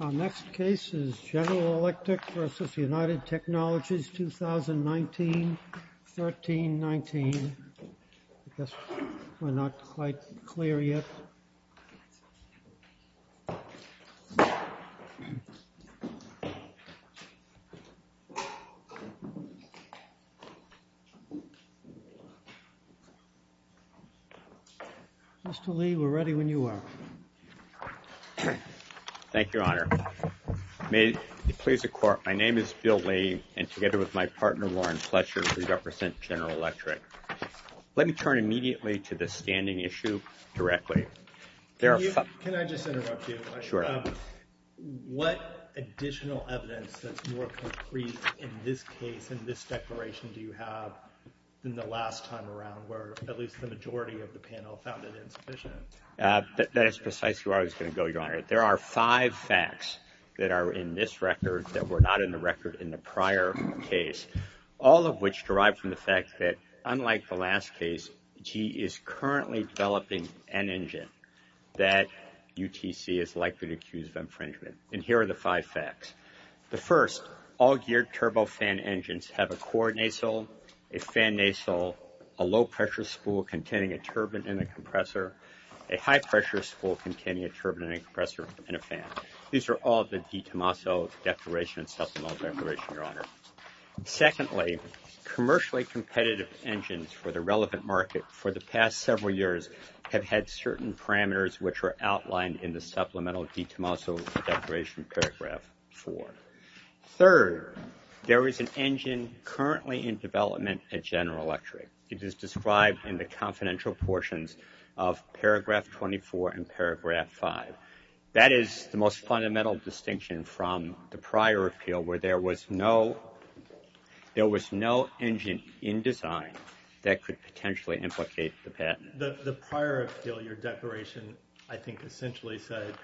Our next case is General Electric v. United Technologies, 2019-13-19, I guess we're not quite clear yet. Mr. Lee, we're ready when you are. Thank you, Your Honor. May it please the court, my name is Bill Lee and together with my partner, Warren Fletcher, we represent General Electric. Let me turn immediately to the standing issue directly. Can I just interrupt you? What additional evidence that's more concrete in this case, in this declaration, do you have than the last time around where at least the majority of the panel found it insufficient? That is precisely where I was going to go, Your Honor. There are five facts that are in this record that were not in the record in the prior case, all of which derived from the fact that, unlike the last case, GE is currently developing an engine that UTC is likely to accuse of infringement. And here are the five facts. The first, all geared turbofan engines have a core nasal, a fan nasal, a low-pressure spool containing a turbine and a compressor, a high-pressure spool containing a turbine and Secondly, commercially competitive engines for the relevant market for the past several years have had certain parameters which were outlined in the supplemental De Tomaso Declaration, paragraph 4. Third, there is an engine currently in development at General Electric. It is described in the confidential portions of paragraph 24 and paragraph 5. That is the most fundamental distinction from the prior appeal where there was no, there was no engine in design that could potentially implicate the patent. The prior appeal, your declaration, I think essentially said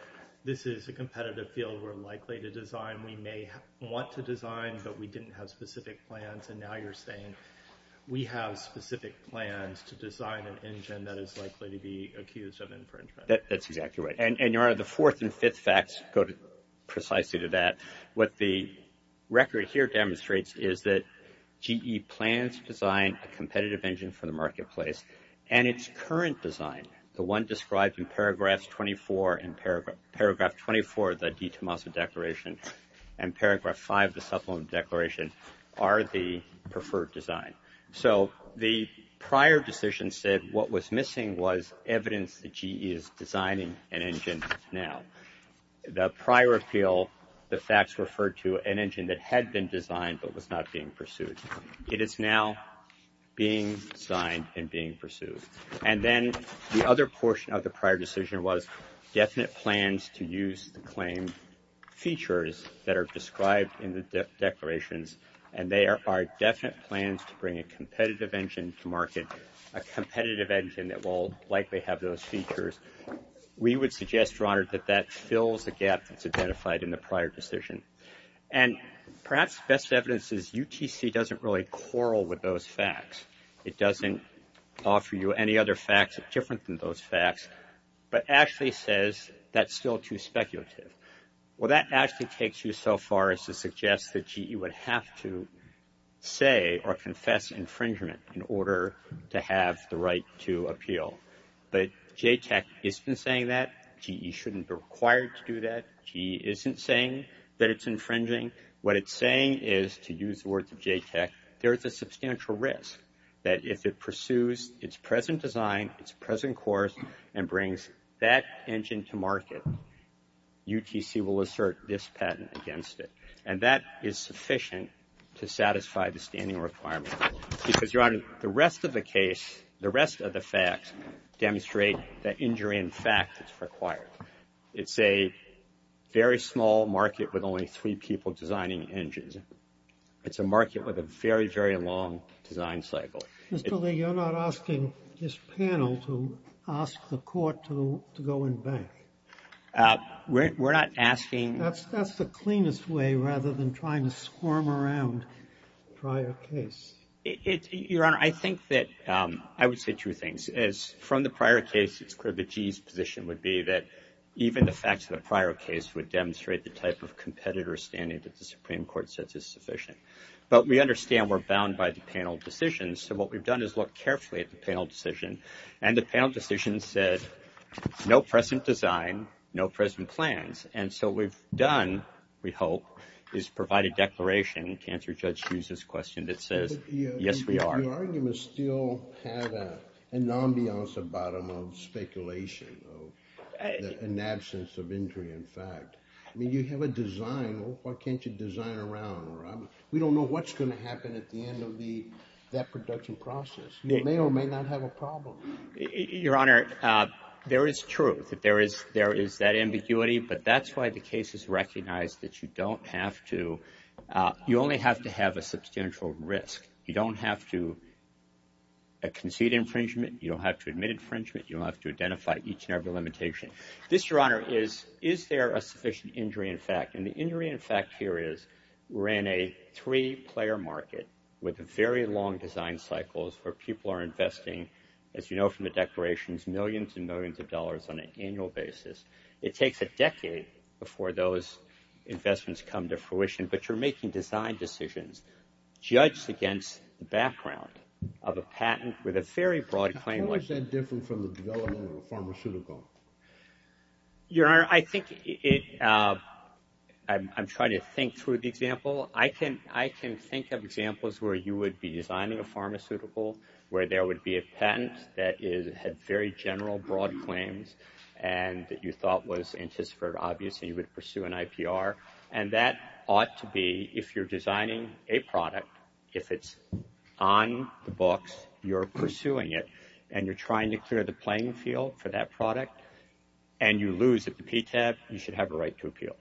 this is a competitive field we're likely to design. We may want to design but we didn't have specific plans and now you're saying we have specific plans to design an engine that is likely to be accused of precisely to that. What the record here demonstrates is that GE plans to design a competitive engine for the marketplace and its current design, the one described in paragraphs 24 and paragraph 24 of the De Tomaso Declaration and paragraph 5 of the Supplemental Declaration are the preferred design. So the prior decision said what was missing was evidence that GE is an engine now. The prior appeal, the facts referred to an engine that had been designed but was not being pursued. It is now being signed and being pursued. And then the other portion of the prior decision was definite plans to use the claim features that are described in the declarations and there are definite plans to bring a competitive engine to market, a competitive engine that will likely have those features. We would suggest, Your Honor, that that fills the gap that's identified in the prior decision. And perhaps best evidence is UTC doesn't really quarrel with those facts. It doesn't offer you any other facts different than those facts but actually says that's still too speculative. Well that actually takes you so far as to suggest that GE would have to say or JTAC isn't saying that. GE shouldn't be required to do that. GE isn't saying that it's infringing. What it's saying is, to use the words of JTAC, there's a substantial risk that if it pursues its present design, its present course, and brings that engine to market, UTC will assert this patent against it. And that is sufficient to satisfy the standing requirement. Because, Your Honor, the rest of the case, the rest of the facts, demonstrate that injury in fact is required. It's a very small market with only three people designing engines. It's a market with a very, very long design cycle. Mr. Lee, you're not asking this panel to ask the court to go in bank. We're not asking... That's the cleanest way rather than trying to squirm around prior case. Your Honor, I think that I would say two things. As from the prior case, it's clear that GE's position would be that even the facts of the prior case would demonstrate the type of competitor standing that the Supreme Court says is sufficient. But we understand we're bound by the panel decisions. So what we've done is look carefully at the panel decision. And the panel decision said, no present design, no present plans. And so we've done, we hope, is provide a declaration to answer Judge Hughes' question that says, yes, we are. Your argument still had an ambiance about speculation, an absence of injury in fact. I mean, you have a design. Why can't you design around? We don't know what's going to happen at the end of that production process. You may or may not have a problem. Your Honor, there is truth. There is that ambiguity. But that's why the case is recognized that you don't have to, you only have to have a substantial risk. You don't have to concede infringement. You don't have to admit infringement. You don't have to identify each and every limitation. This, Your Honor, is, is there a sufficient injury in fact? And the injury in fact here is we're in a three-player market with very long design cycles where people are investing, as you know from the declarations, millions and millions of dollars on an annual basis. It takes a decade before those investments come to fruition. But you're making design decisions judged against the background of a patent with a very broad claim. How is that different from the development of a pharmaceutical? Your Honor, I think it, I'm trying to think through the example. I can, I can think of examples where you would be designing a pharmaceutical, where there would be a patent that is, had very general broad claims and that you thought was anticipated or obvious and you would pursue an IPR. And that ought to be, if you're designing a product, if it's on the books, you're pursuing it, and you're trying to clear the playing field for that product, and you lose at the PTAB, you should have a right to appeal.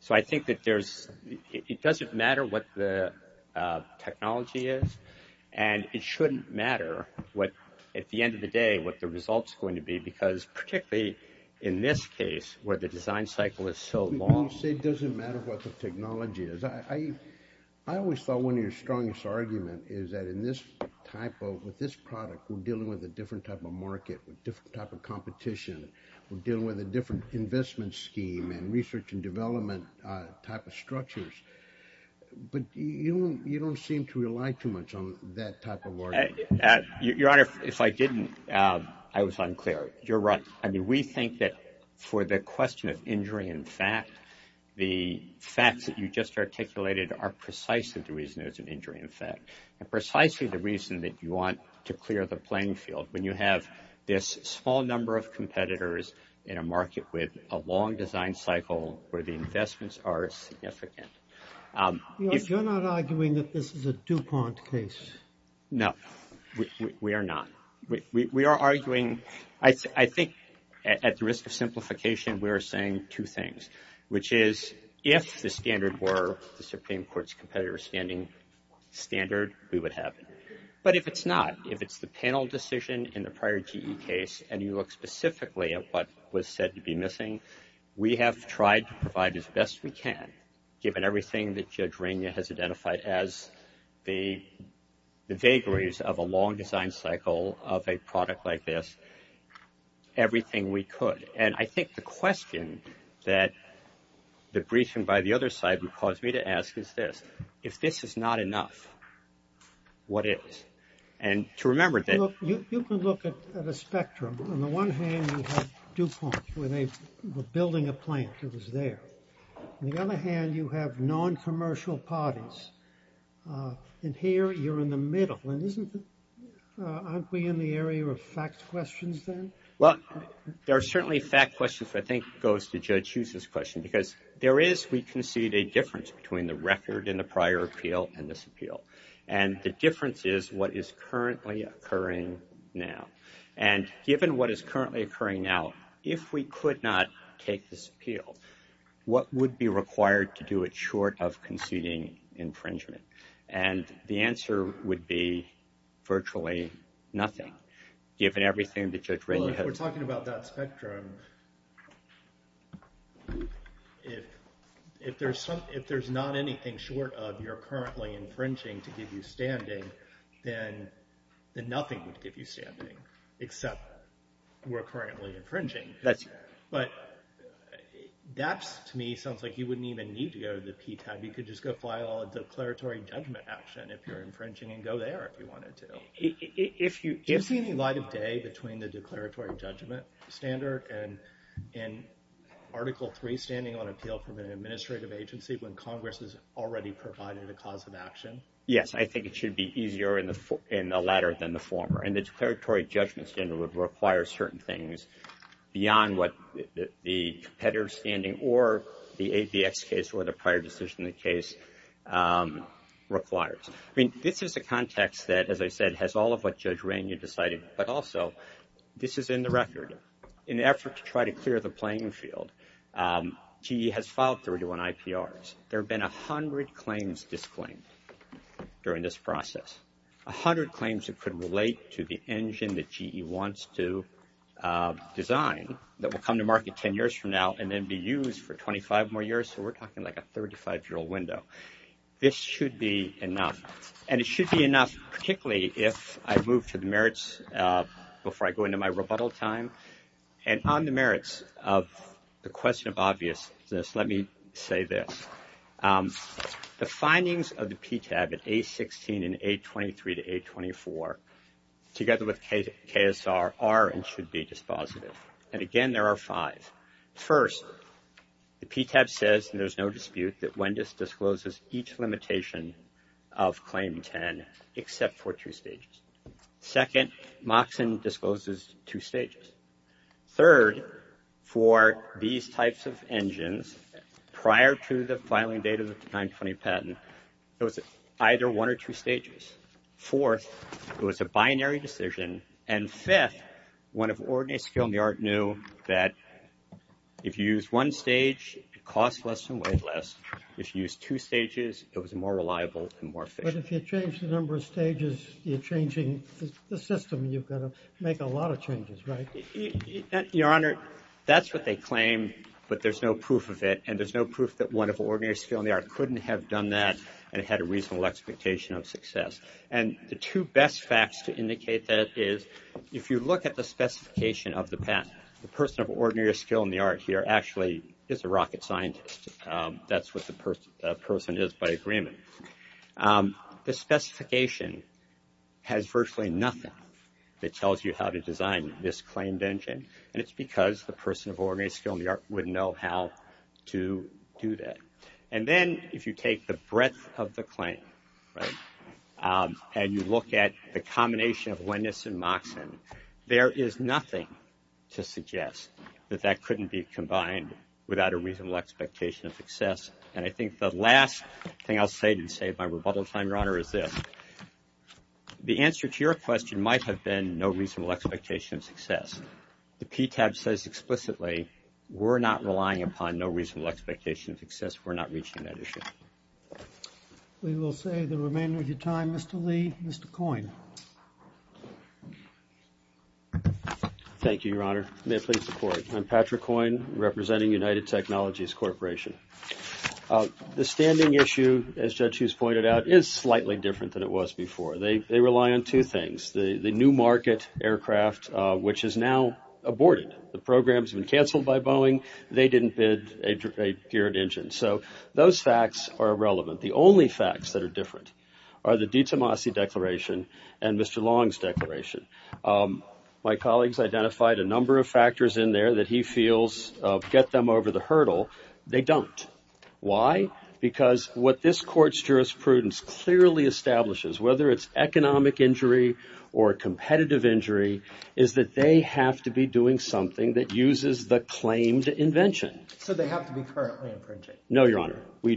So I think that there's, it doesn't matter what the technology is. And it shouldn't matter what, at the end of the day, what the result's going to be. Because particularly in this case, where the design cycle is so long. You say it doesn't matter what the technology is. I, I always thought one of your strongest argument is that in this type of, with this product, we're dealing with a different type of market, with different type of competition. We're dealing with a different investment scheme and research and development type of structures. But you, you don't seem to rely too much on that type of argument. Your Honor, if I didn't, I was unclear. You're right. I mean, we think that for the question of injury in fact, the facts that you just articulated are precisely the reason there's an injury in fact. And precisely the reason that you want to clear the playing field when you have this small number of competitors in a market with a long design cycle where the investments are significant. You're not arguing that this is a DuPont case? No, we are not. We are arguing, I think at the risk of simplification, we are saying two things, which is if the standard were the Supreme Court's competitor standing standard, we would have it. But if it's not, if it's the panel decision in the prior GE case, and you look specifically at what was said to be missing, we have tried to provide as best we can, given everything that Judge Rania has the vagaries of a long design cycle of a product like this, everything we could. And I think the question that the briefing by the other side would cause me to ask is this, if this is not enough, what is? And to remember that... Look, you can look at a spectrum. On the one hand, you have DuPont, where they were building a plant that was there. On the other hand, you have non-commercial parties. And here you're in the middle. And isn't, aren't we in the area of fact questions then? Well, there are certainly fact questions. I think it goes to Judge Hughes's question, because there is, we can see the difference between the record in the prior appeal and this appeal. And the difference is what is currently occurring now. And given what is currently occurring now, if we could not take this appeal, what would be required to do it short of conceding infringement? And the answer would be virtually nothing, given everything that Judge Rania has... Well, if we're talking about that spectrum, if there's some, if there's not anything short of you're currently infringing to give you standing, then nothing would give you standing, except we're currently infringing. But that's, to me, sounds like you wouldn't even need to go to the PTAB. You could just go file a declaratory judgment action if you're infringing and go there if you wanted to. If you... Do you see any light of day between the declaratory judgment standard and Article 3 standing on appeal from an administrative agency when Congress has already provided a cause of action? Yes, I think it should be easier in the latter than the former. And the declaratory judgment standard would require certain things beyond what the competitor standing or the ABX case or the prior decision in the case requires. I mean, this is a context that, as I said, has all of what Judge Rania decided, but also, this is in the record. In an effort to try to clear the playing field, GE has filed 31 IPRs. There have been 100 claims disclaimed during this process, 100 claims that could relate to the engine that GE wants to design that will come to market 10 years from now and then be used for 25 more years. So we're talking like a 35-year-old window. This should be enough, and it should be enough particularly if I move to the merits before I go into my rebuttal time. And on the merits of the question of obviousness, let me say this. The findings of the PTAB in A16 and A23 to A24, together with KSR, are and should be dispositive. And again, there are five. First, the PTAB says, and there's no dispute, that Wendis discloses each limitation of Claim 10 except for two stages. Third, for these types of engines, prior to the filing date of the 2020 patent, it was either one or two stages. Fourth, it was a binary decision. And fifth, one of Ordnance, Skill, and the Art knew that if you use one stage, it costs less and weighs less. If you use two stages, it was more reliable and more efficient. But if you change the number of stages, you're changing the system. You've got to make a lot of changes, right? Your Honor, that's what they claim, but there's no proof of it. And there's no proof that one of Ordnance, Skill, and the Art couldn't have done that and had a reasonable expectation of success. And the two best facts to indicate that is, if you look at the specification of the patent, the person of Ordnance, Skill, and the Art here actually is a rocket scientist. That's what the person is by agreement. The specification has virtually nothing that tells you how to design this claimed engine, and it's because the person of Ordnance, Skill, and the Art wouldn't know how to do that. And then if you take the breadth of the claim, right, and you look at the combination of Wendis and Moxon, there is nothing to suggest that that couldn't be combined without a reasonable expectation of success. And I think the last thing I'll say to save my rebuttal time, Your Honor, is this. The answer to your question might have been no reasonable expectation of success. The PTAB says explicitly, we're not relying upon no reasonable expectation of success. We're not reaching that issue. We will save the remainder of your time. Mr. Lee, Mr. Coyne. Thank you, Your Honor. May it please the Court. I'm Patrick Coyne, representing United Technologies Corporation. The standing issue, as Judge Hughes pointed out, is slightly different than it was before. They rely on two things, the new market aircraft, which is now aborted. The program's been canceled by Boeing. They didn't bid a geared engine. So those facts are relevant. The only facts that are different are the De Tomasi declaration and Mr. Long's declaration. My colleagues identified a number of factors in there that he feels get them over the hurdle. They don't. Why? Because what this Court's jurisprudence clearly establishes, whether it's economic injury or competitive injury, is that they have to be doing something that uses the claimed invention. So they have to be currently infringing? No, Your Honor. We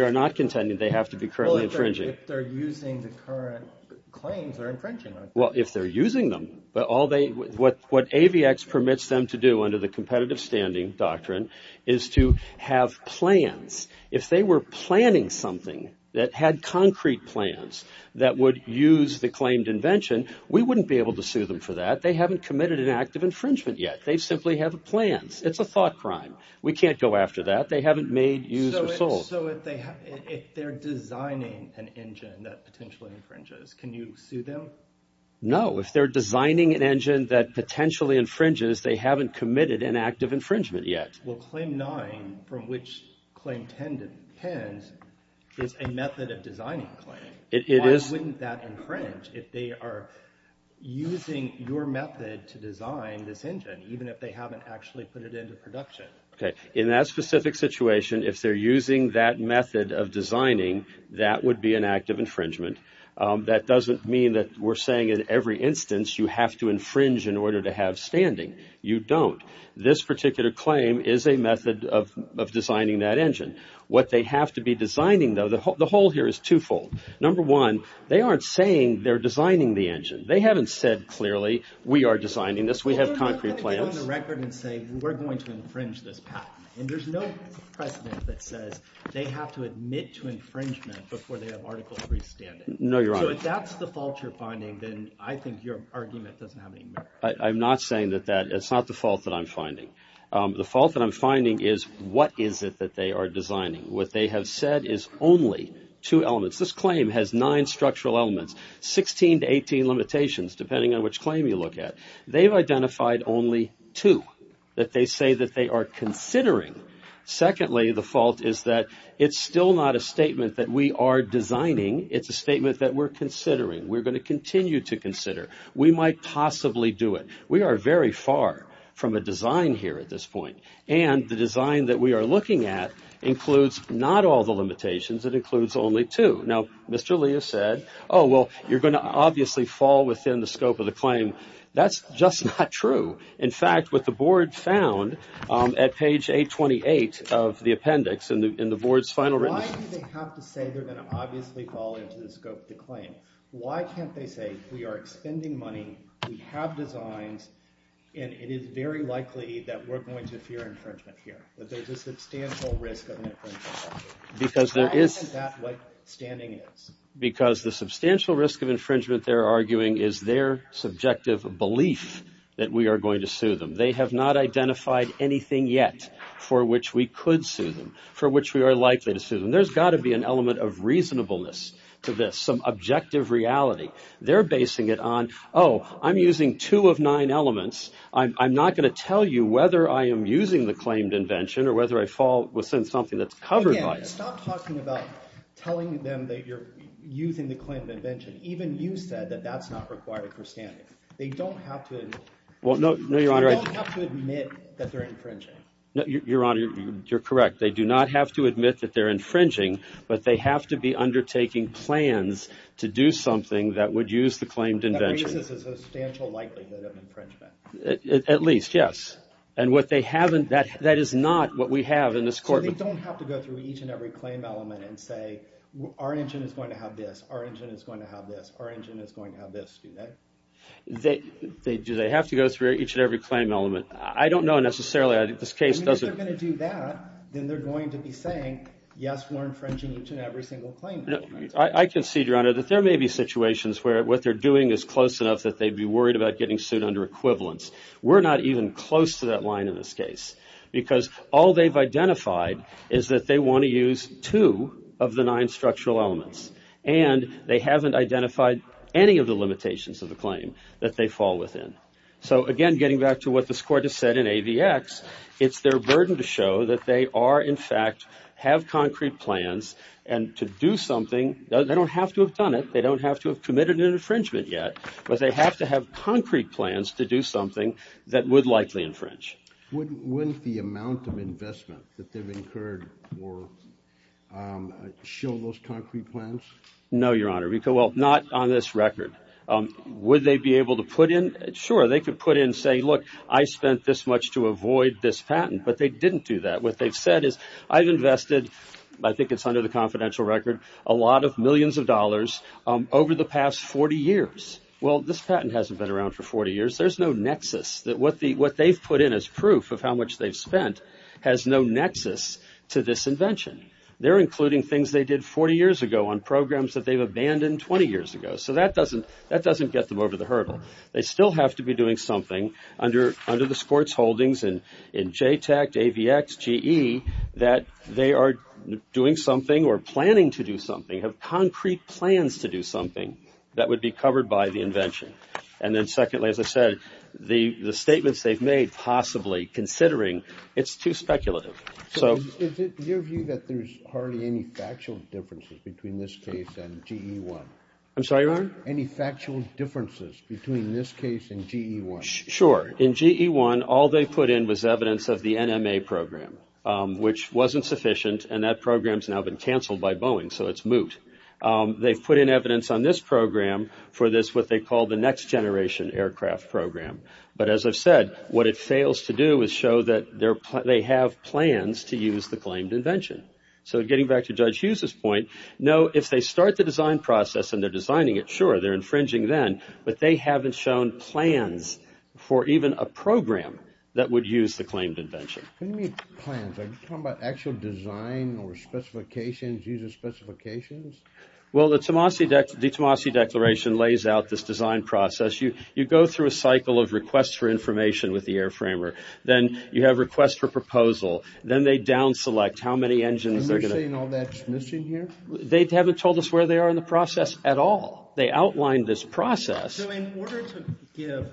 are not contending they have to be currently infringing. Well, if they're using the current claims, they're infringing. Well, if they're using them. But what AVX permits them to do under the competitive standing doctrine is to have plans. If they were planning something that had concrete plans that would use the claimed invention, we wouldn't be able to sue them for that. They haven't committed an act of infringement yet. They simply have plans. It's a thought crime. We can't go after that. They haven't made, used or sold. So if they're designing an engine that potentially infringes, can you sue them? No. If they're designing an engine that potentially infringes, they haven't committed an act of infringement yet. Well, Claim 9, from which Claim 10 depends, is a method of designing a claim. Why wouldn't that infringe if they are using your method to design this engine, even if they haven't actually put it into production? In that specific situation, if they're using that method of designing, that would be an act of infringement. That doesn't mean that we're saying in every instance you have to infringe in order to have standing. You don't. This particular claim is a method of designing that engine. What they have to be designing, though, the whole here is twofold. Number one, they aren't saying they're designing the engine. They haven't said clearly, we are designing this. We have concrete plans. Well, we're not going to go on the record and say we're going to infringe this patent. And there's no precedent that says they have to admit to infringement before they have Article 3 standing. No, Your Honor. So if that's the fault you're finding, then I think your argument doesn't have any merit. I'm not saying that that is not the fault that I'm finding. The fault that I'm finding is what is it that they are designing? What they have said is only two elements. This claim has nine structural elements, 16 to 18 limitations, depending on which claim you look at. They've identified only two that they say that they are considering. Secondly, the fault is that it's still not a statement that we are designing. It's a statement that we're considering. We're going to continue to consider. We might possibly do it. We are very far from a design here at this point. And the design that we are looking at includes not all the limitations. It includes only two. Now, Mr. Lee has said, oh, well, you're going to obviously fall within the scope of the claim. That's just not true. In fact, what the board found at page 828 of the appendix in the board's final written... Why do they have to say they're going to obviously fall into the scope of the claim? Why can't they say we are expending money, we have designs, and it is very likely that we're going to fear infringement here? But there's a substantial risk of infringement. Why isn't that what standing is? Because the substantial risk of infringement they're arguing is their subjective belief that we are going to sue them. They have not identified anything yet for which we could sue them, for which we are likely to sue them. There's got to be an element of reasonableness to this, some objective reality. They're basing it on, oh, I'm using two of nine elements. I'm not going to tell you whether I am using the claimed invention or whether I fall within something that's covered by it. Stop talking about telling them that you're using the claimed invention. Even you said that that's not required for standing. They don't have to admit that they're infringing. Your Honor, you're correct. They do not have to admit that they're infringing, but they have to be undertaking plans to do something that would use the claimed invention. That raises a substantial likelihood of infringement. At least, yes. And what they haven't, that is not what we have in this court. So they don't have to go through each and every claim element and say our engine is going to have this, our engine is going to have this, our engine is going to have this, do they? Do they have to go through each and every claim element? I don't know necessarily. If they're going to do that, then they're going to be saying, yes, we're infringing each and every single claim element. I can see, Your Honor, that there may be situations where what they're doing is close enough that they'd be worried about getting sued under equivalence. We're not even close to that line in this case because all they've identified is that they want to use two of the nine structural elements. And they haven't identified any of the limitations of the claim that they fall within. So, again, getting back to what this court has said in AVX, it's their burden to show that they are, in fact, have concrete plans and to do something. They don't have to have done it. They don't have to have committed an infringement yet. But they have to have concrete plans to do something that would likely infringe. Wouldn't the amount of investment that they've incurred show those concrete plans? No, Your Honor. Well, not on this record. Would they be able to put in? Sure, they could put in and say, look, I spent this much to avoid this patent. But they didn't do that. What they've said is, I've invested, I think it's under the confidential record, a lot of millions of dollars over the past 40 years. Well, this patent hasn't been around for 40 years. There's no nexus. What they've put in as proof of how much they've spent has no nexus to this invention. They're including things they did 40 years ago on programs that they've abandoned 20 years ago. So that doesn't get them over the hurdle. They still have to be doing something under the sports holdings in JTAC, AVX, GE, that they are doing something or planning to do something, have concrete plans to do something that would be covered by the invention. And then secondly, as I said, the statements they've made possibly considering it's too speculative. So is it your view that there's hardly any factual differences between this case and GE-1? I'm sorry, Ron? Any factual differences between this case and GE-1? Sure. In GE-1, all they put in was evidence of the NMA program, which wasn't sufficient, and that program's now been canceled by Boeing, so it's moot. They've put in evidence on this program for this, what they call the next generation aircraft program. But as I've said, what it fails to do is show that they have plans to use the claimed invention. So getting back to Judge Hughes's point, no, if they start the design process and they're designing it, sure, they're infringing then, but they haven't shown plans for even a program that would use the claimed invention. What do you mean plans? Are you talking about actual design or specifications, user specifications? Well, the Tomasi Declaration lays out this design process. You go through a cycle of requests for information with the airframer. Then you have requests for proposal. Then they down-select how many engines they're going to— Are you saying all that's missing here? They haven't told us where they are in the process at all. They outlined this process. So in order to give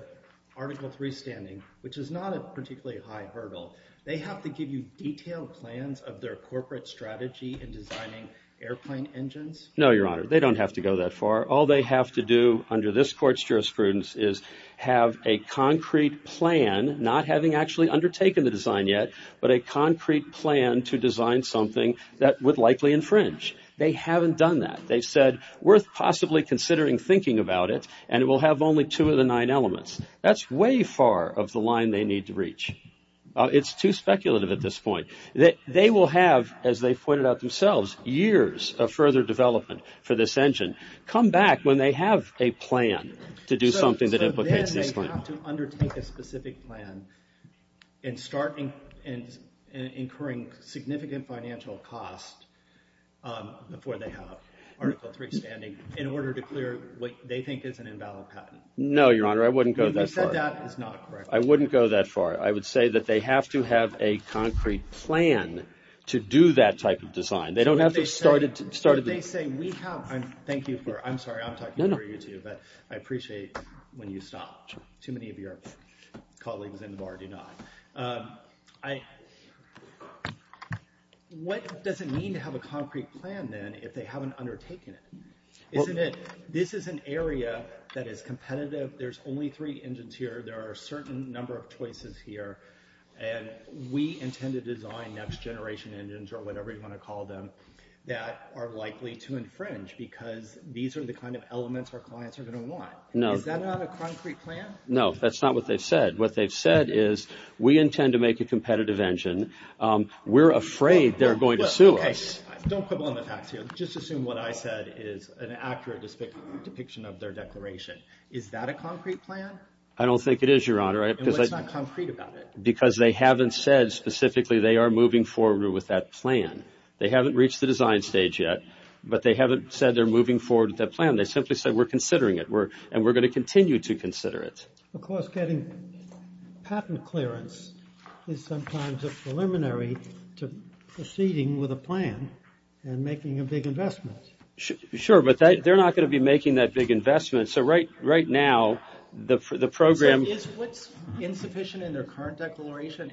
Article III standing, which is not a particularly high hurdle, they have to give you detailed plans of their corporate strategy in designing airplane engines? No, Your Honor. They don't have to go that far. All they have to do under this Court's jurisprudence is have a concrete plan, not having actually undertaken the design yet, but a concrete plan to design something that would likely infringe. They haven't done that. They said, worth possibly considering thinking about it, and it will have only two of the nine elements. That's way far of the line they need to reach. It's too speculative at this point. They will have, as they pointed out themselves, years of further development for this engine. Come back when they have a plan to do something that implicates this plan. So then they have to undertake a specific plan and start incurring significant financial costs before they have Article III standing in order to clear what they think is an invalid patent? No, Your Honor, I wouldn't go that far. If you said that, it's not correct. I wouldn't go that far. I would say that they have to have a concrete plan to do that type of design. They don't have to start at the— Thank you for—I'm sorry. I'm talking for you, too, but I appreciate when you stop. Too many of your colleagues in the bar do not. What does it mean to have a concrete plan, then, if they haven't undertaken it? Isn't it—this is an area that is competitive. There's only three engines here. There are a certain number of choices here, and we intend to design next-generation engines, or whatever you want to call them, that are likely to infringe because these are the kind of elements our clients are going to want. Is that not a concrete plan? No, that's not what they've said. What they've said is, we intend to make a competitive engine. We're afraid they're going to sue us. Don't quibble on the facts here. Just assume what I said is an accurate depiction of their declaration. Is that a concrete plan? I don't think it is, Your Honor. And what's not concrete about it? Because they haven't said specifically they are moving forward with that plan. They haven't reached the design stage yet, but they haven't said they're moving forward with that plan. They simply said, we're considering it, and we're going to continue to consider it. Of course, getting patent clearance is sometimes a preliminary to proceeding with a plan and making a big investment. Sure, but they're not going to be making that big investment. So right now, the program— a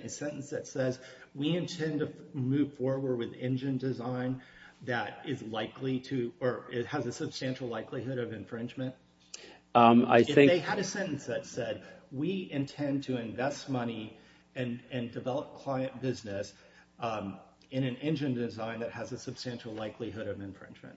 sentence that says, we intend to move forward with engine design that has a substantial likelihood of infringement. If they had a sentence that said, we intend to invest money and develop client business in an engine design that has a substantial likelihood of infringement.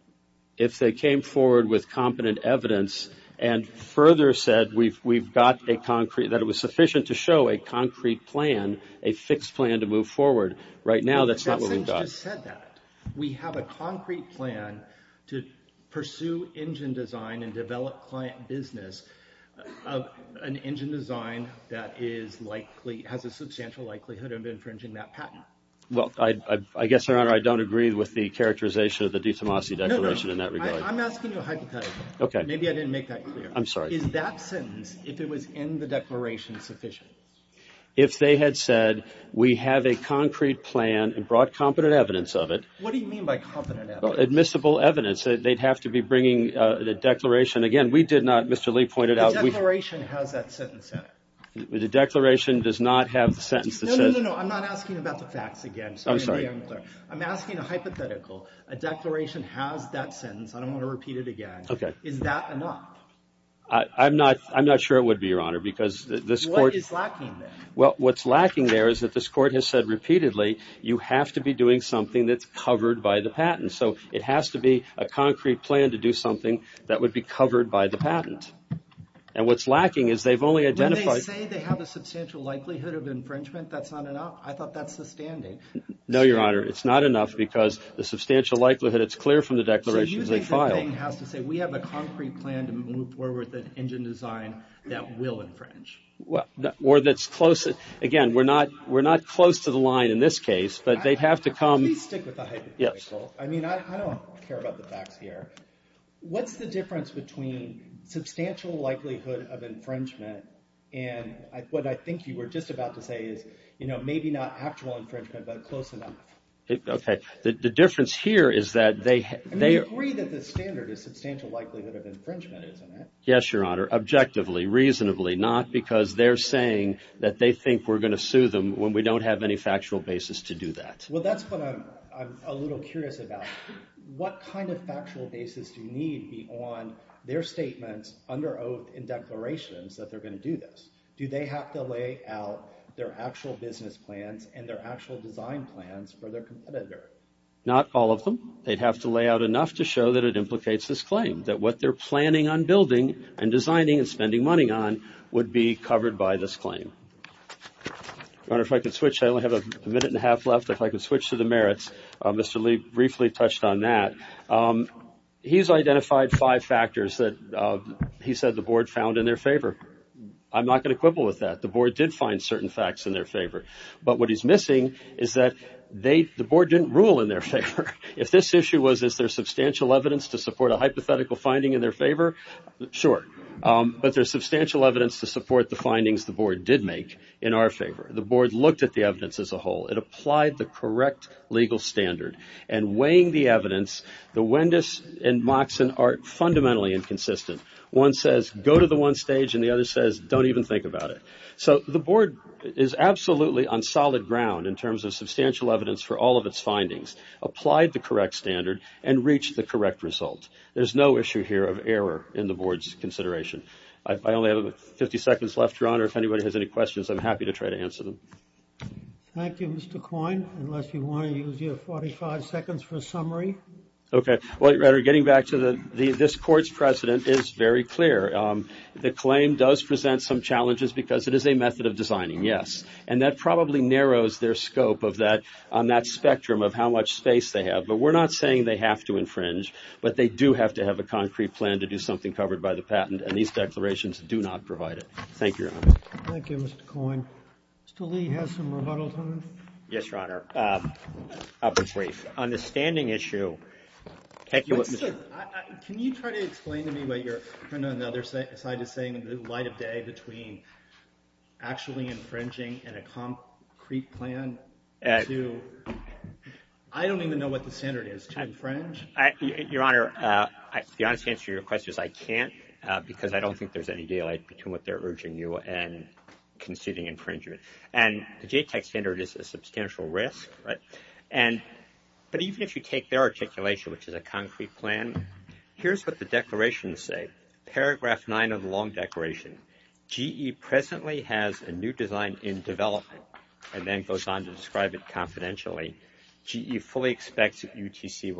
If they came forward with competent evidence and further said we've got a concrete— that it was sufficient to show a concrete plan, a fixed plan to move forward, right now that's not what we've got. That sentence just said that. We have a concrete plan to pursue engine design and develop client business of an engine design that is likely— has a substantial likelihood of infringing that patent. Well, I guess, Your Honor, I don't agree with the characterization of the De Tomasi declaration in that regard. I'm asking you a hypothetical. Okay. Maybe I didn't make that clear. I'm sorry. Is that sentence, if it was in the declaration, sufficient? If they had said, we have a concrete plan and brought competent evidence of it— What do you mean by competent evidence? Admissible evidence. They'd have to be bringing the declaration. Again, we did not, Mr. Lee pointed out— The declaration has that sentence in it. The declaration does not have the sentence that says— No, no, no. I'm not asking about the facts again. I'm sorry. I'm asking a hypothetical. A declaration has that sentence. I don't want to repeat it again. Okay. Is that enough? I'm not sure it would be, Your Honor, because this court— What is lacking there? Well, what's lacking there is that this court has said repeatedly, you have to be doing something that's covered by the patent. So it has to be a concrete plan to do something that would be covered by the patent. And what's lacking is they've only identified— I thought that's not enough. I thought that's the standing. No, Your Honor. It's not enough because the substantial likelihood it's clear from the declarations they filed. So you think the thing has to say, we have a concrete plan to move forward the engine design that will infringe? Well, or that's close— Again, we're not close to the line in this case, but they'd have to come— Please stick with the hypothetical. Yes. I mean, I don't care about the facts here. What's the difference between substantial likelihood of infringement and what I think you were just about to say is, you know, maybe not actual infringement, but close enough? Okay. The difference here is that they— I mean, you agree that the standard is substantial likelihood of infringement, isn't it? Yes, Your Honor. Objectively, reasonably, not because they're saying that they think we're going to sue them when we don't have any factual basis to do that. Well, that's what I'm a little curious about. What kind of factual basis do you need beyond their statements under oath in declarations that they're going to do this? Do they have to lay out their actual business plans and their actual design plans for their competitor? Not all of them. They'd have to lay out enough to show that it implicates this claim, that what they're planning on building and designing and spending money on would be covered by this claim. Your Honor, if I could switch. I only have a minute and a half left. If I could switch to the merits. Mr. Lee briefly touched on that. He's identified five factors that he said the Board found in their favor. I'm not going to quibble with that. The Board did find certain facts in their favor. But what he's missing is that the Board didn't rule in their favor. If this issue was, is there substantial evidence to support a hypothetical finding in their favor? Sure. But there's substantial evidence to support the findings the Board did make in our favor. The Board looked at the evidence as a whole. It applied the correct legal standard. And weighing the evidence, the Wendis and Moxon are fundamentally inconsistent. One says, go to the one stage, and the other says, don't even think about it. So the Board is absolutely on solid ground in terms of substantial evidence for all of its findings, applied the correct standard, and reached the correct result. There's no issue here of error in the Board's consideration. I only have 50 seconds left, Your Honor. If anybody has any questions, I'm happy to try to answer them. Thank you, Mr. Coyne, unless you want to use your 45 seconds for a summary. Okay. Well, Your Honor, getting back to the, this Court's precedent is very clear. The claim does present some challenges because it is a method of designing, yes. And that probably narrows their scope of that, on that spectrum of how much space they have. But we're not saying they have to infringe. But they do have to have a concrete plan to do something covered by the patent. And these declarations do not provide it. Thank you, Your Honor. Thank you, Mr. Coyne. Mr. Lee has some rebuttal time. Yes, Your Honor. I'll be brief. On the standing issue, thank you, Mr. Coyne. Can you try to explain to me what your friend on the other side is saying in the light of day, between actually infringing and a concrete plan to, I don't even know what the standard is, to infringe? Your Honor, the honest answer to your question is I can't, because I don't think there's any daylight between what they're urging you and conceding infringement. And the JTAC standard is a substantial risk. But even if you take their articulation, which is a concrete plan, here's what the declarations say. Paragraph 9 of the long declaration, GE presently has a new design in development, and then goes on to describe it confidentially. GE fully expects UTC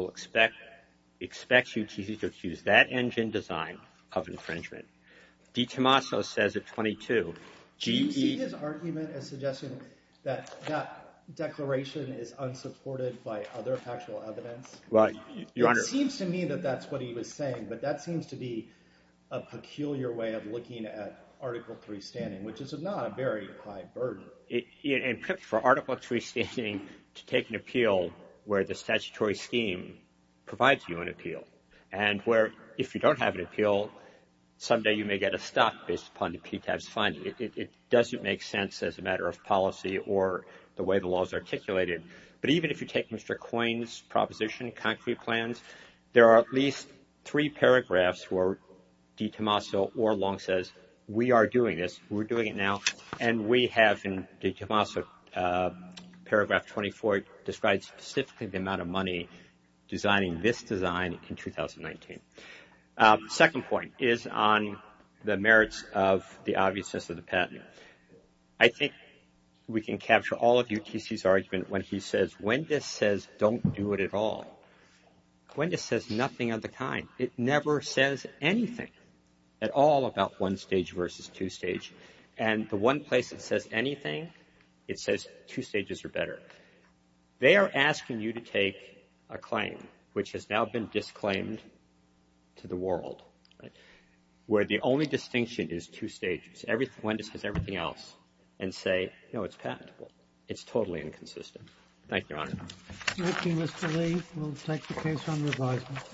to accuse that engine design of infringement. DiTomaso says at 22, GE – Do you see his argument as suggesting that that declaration is unsupported by other factual evidence? Well, Your Honor – It seems to me that that's what he was saying, but that seems to be a peculiar way of looking at Article III standing, which is not a very high burden. For Article III standing to take an appeal where the statutory scheme provides you an appeal, and where if you don't have an appeal, someday you may get a stop based upon the PTAB's finding, it doesn't make sense as a matter of policy or the way the law is articulated. But even if you take Mr. Coyne's proposition, concrete plans, there are at least three paragraphs where DiTomaso or Long says, we are doing this, we're doing it now, and we have in DiTomaso, paragraph 24, describes specifically the amount of money designing this design in 2019. Second point is on the merits of the obviousness of the patent. I think we can capture all of UTC's argument when he says, when this says don't do it at all, when this says nothing of the kind, it never says anything at all about one stage versus two stage. And the one place it says anything, it says two stages are better. They are asking you to take a claim, which has now been disclaimed to the world, where the only distinction is two stages. When it says everything else, and say, no, it's patentable. It's totally inconsistent. Thank you, Your Honor. Thank you, Mr. Lee. We'll take the case on revisement.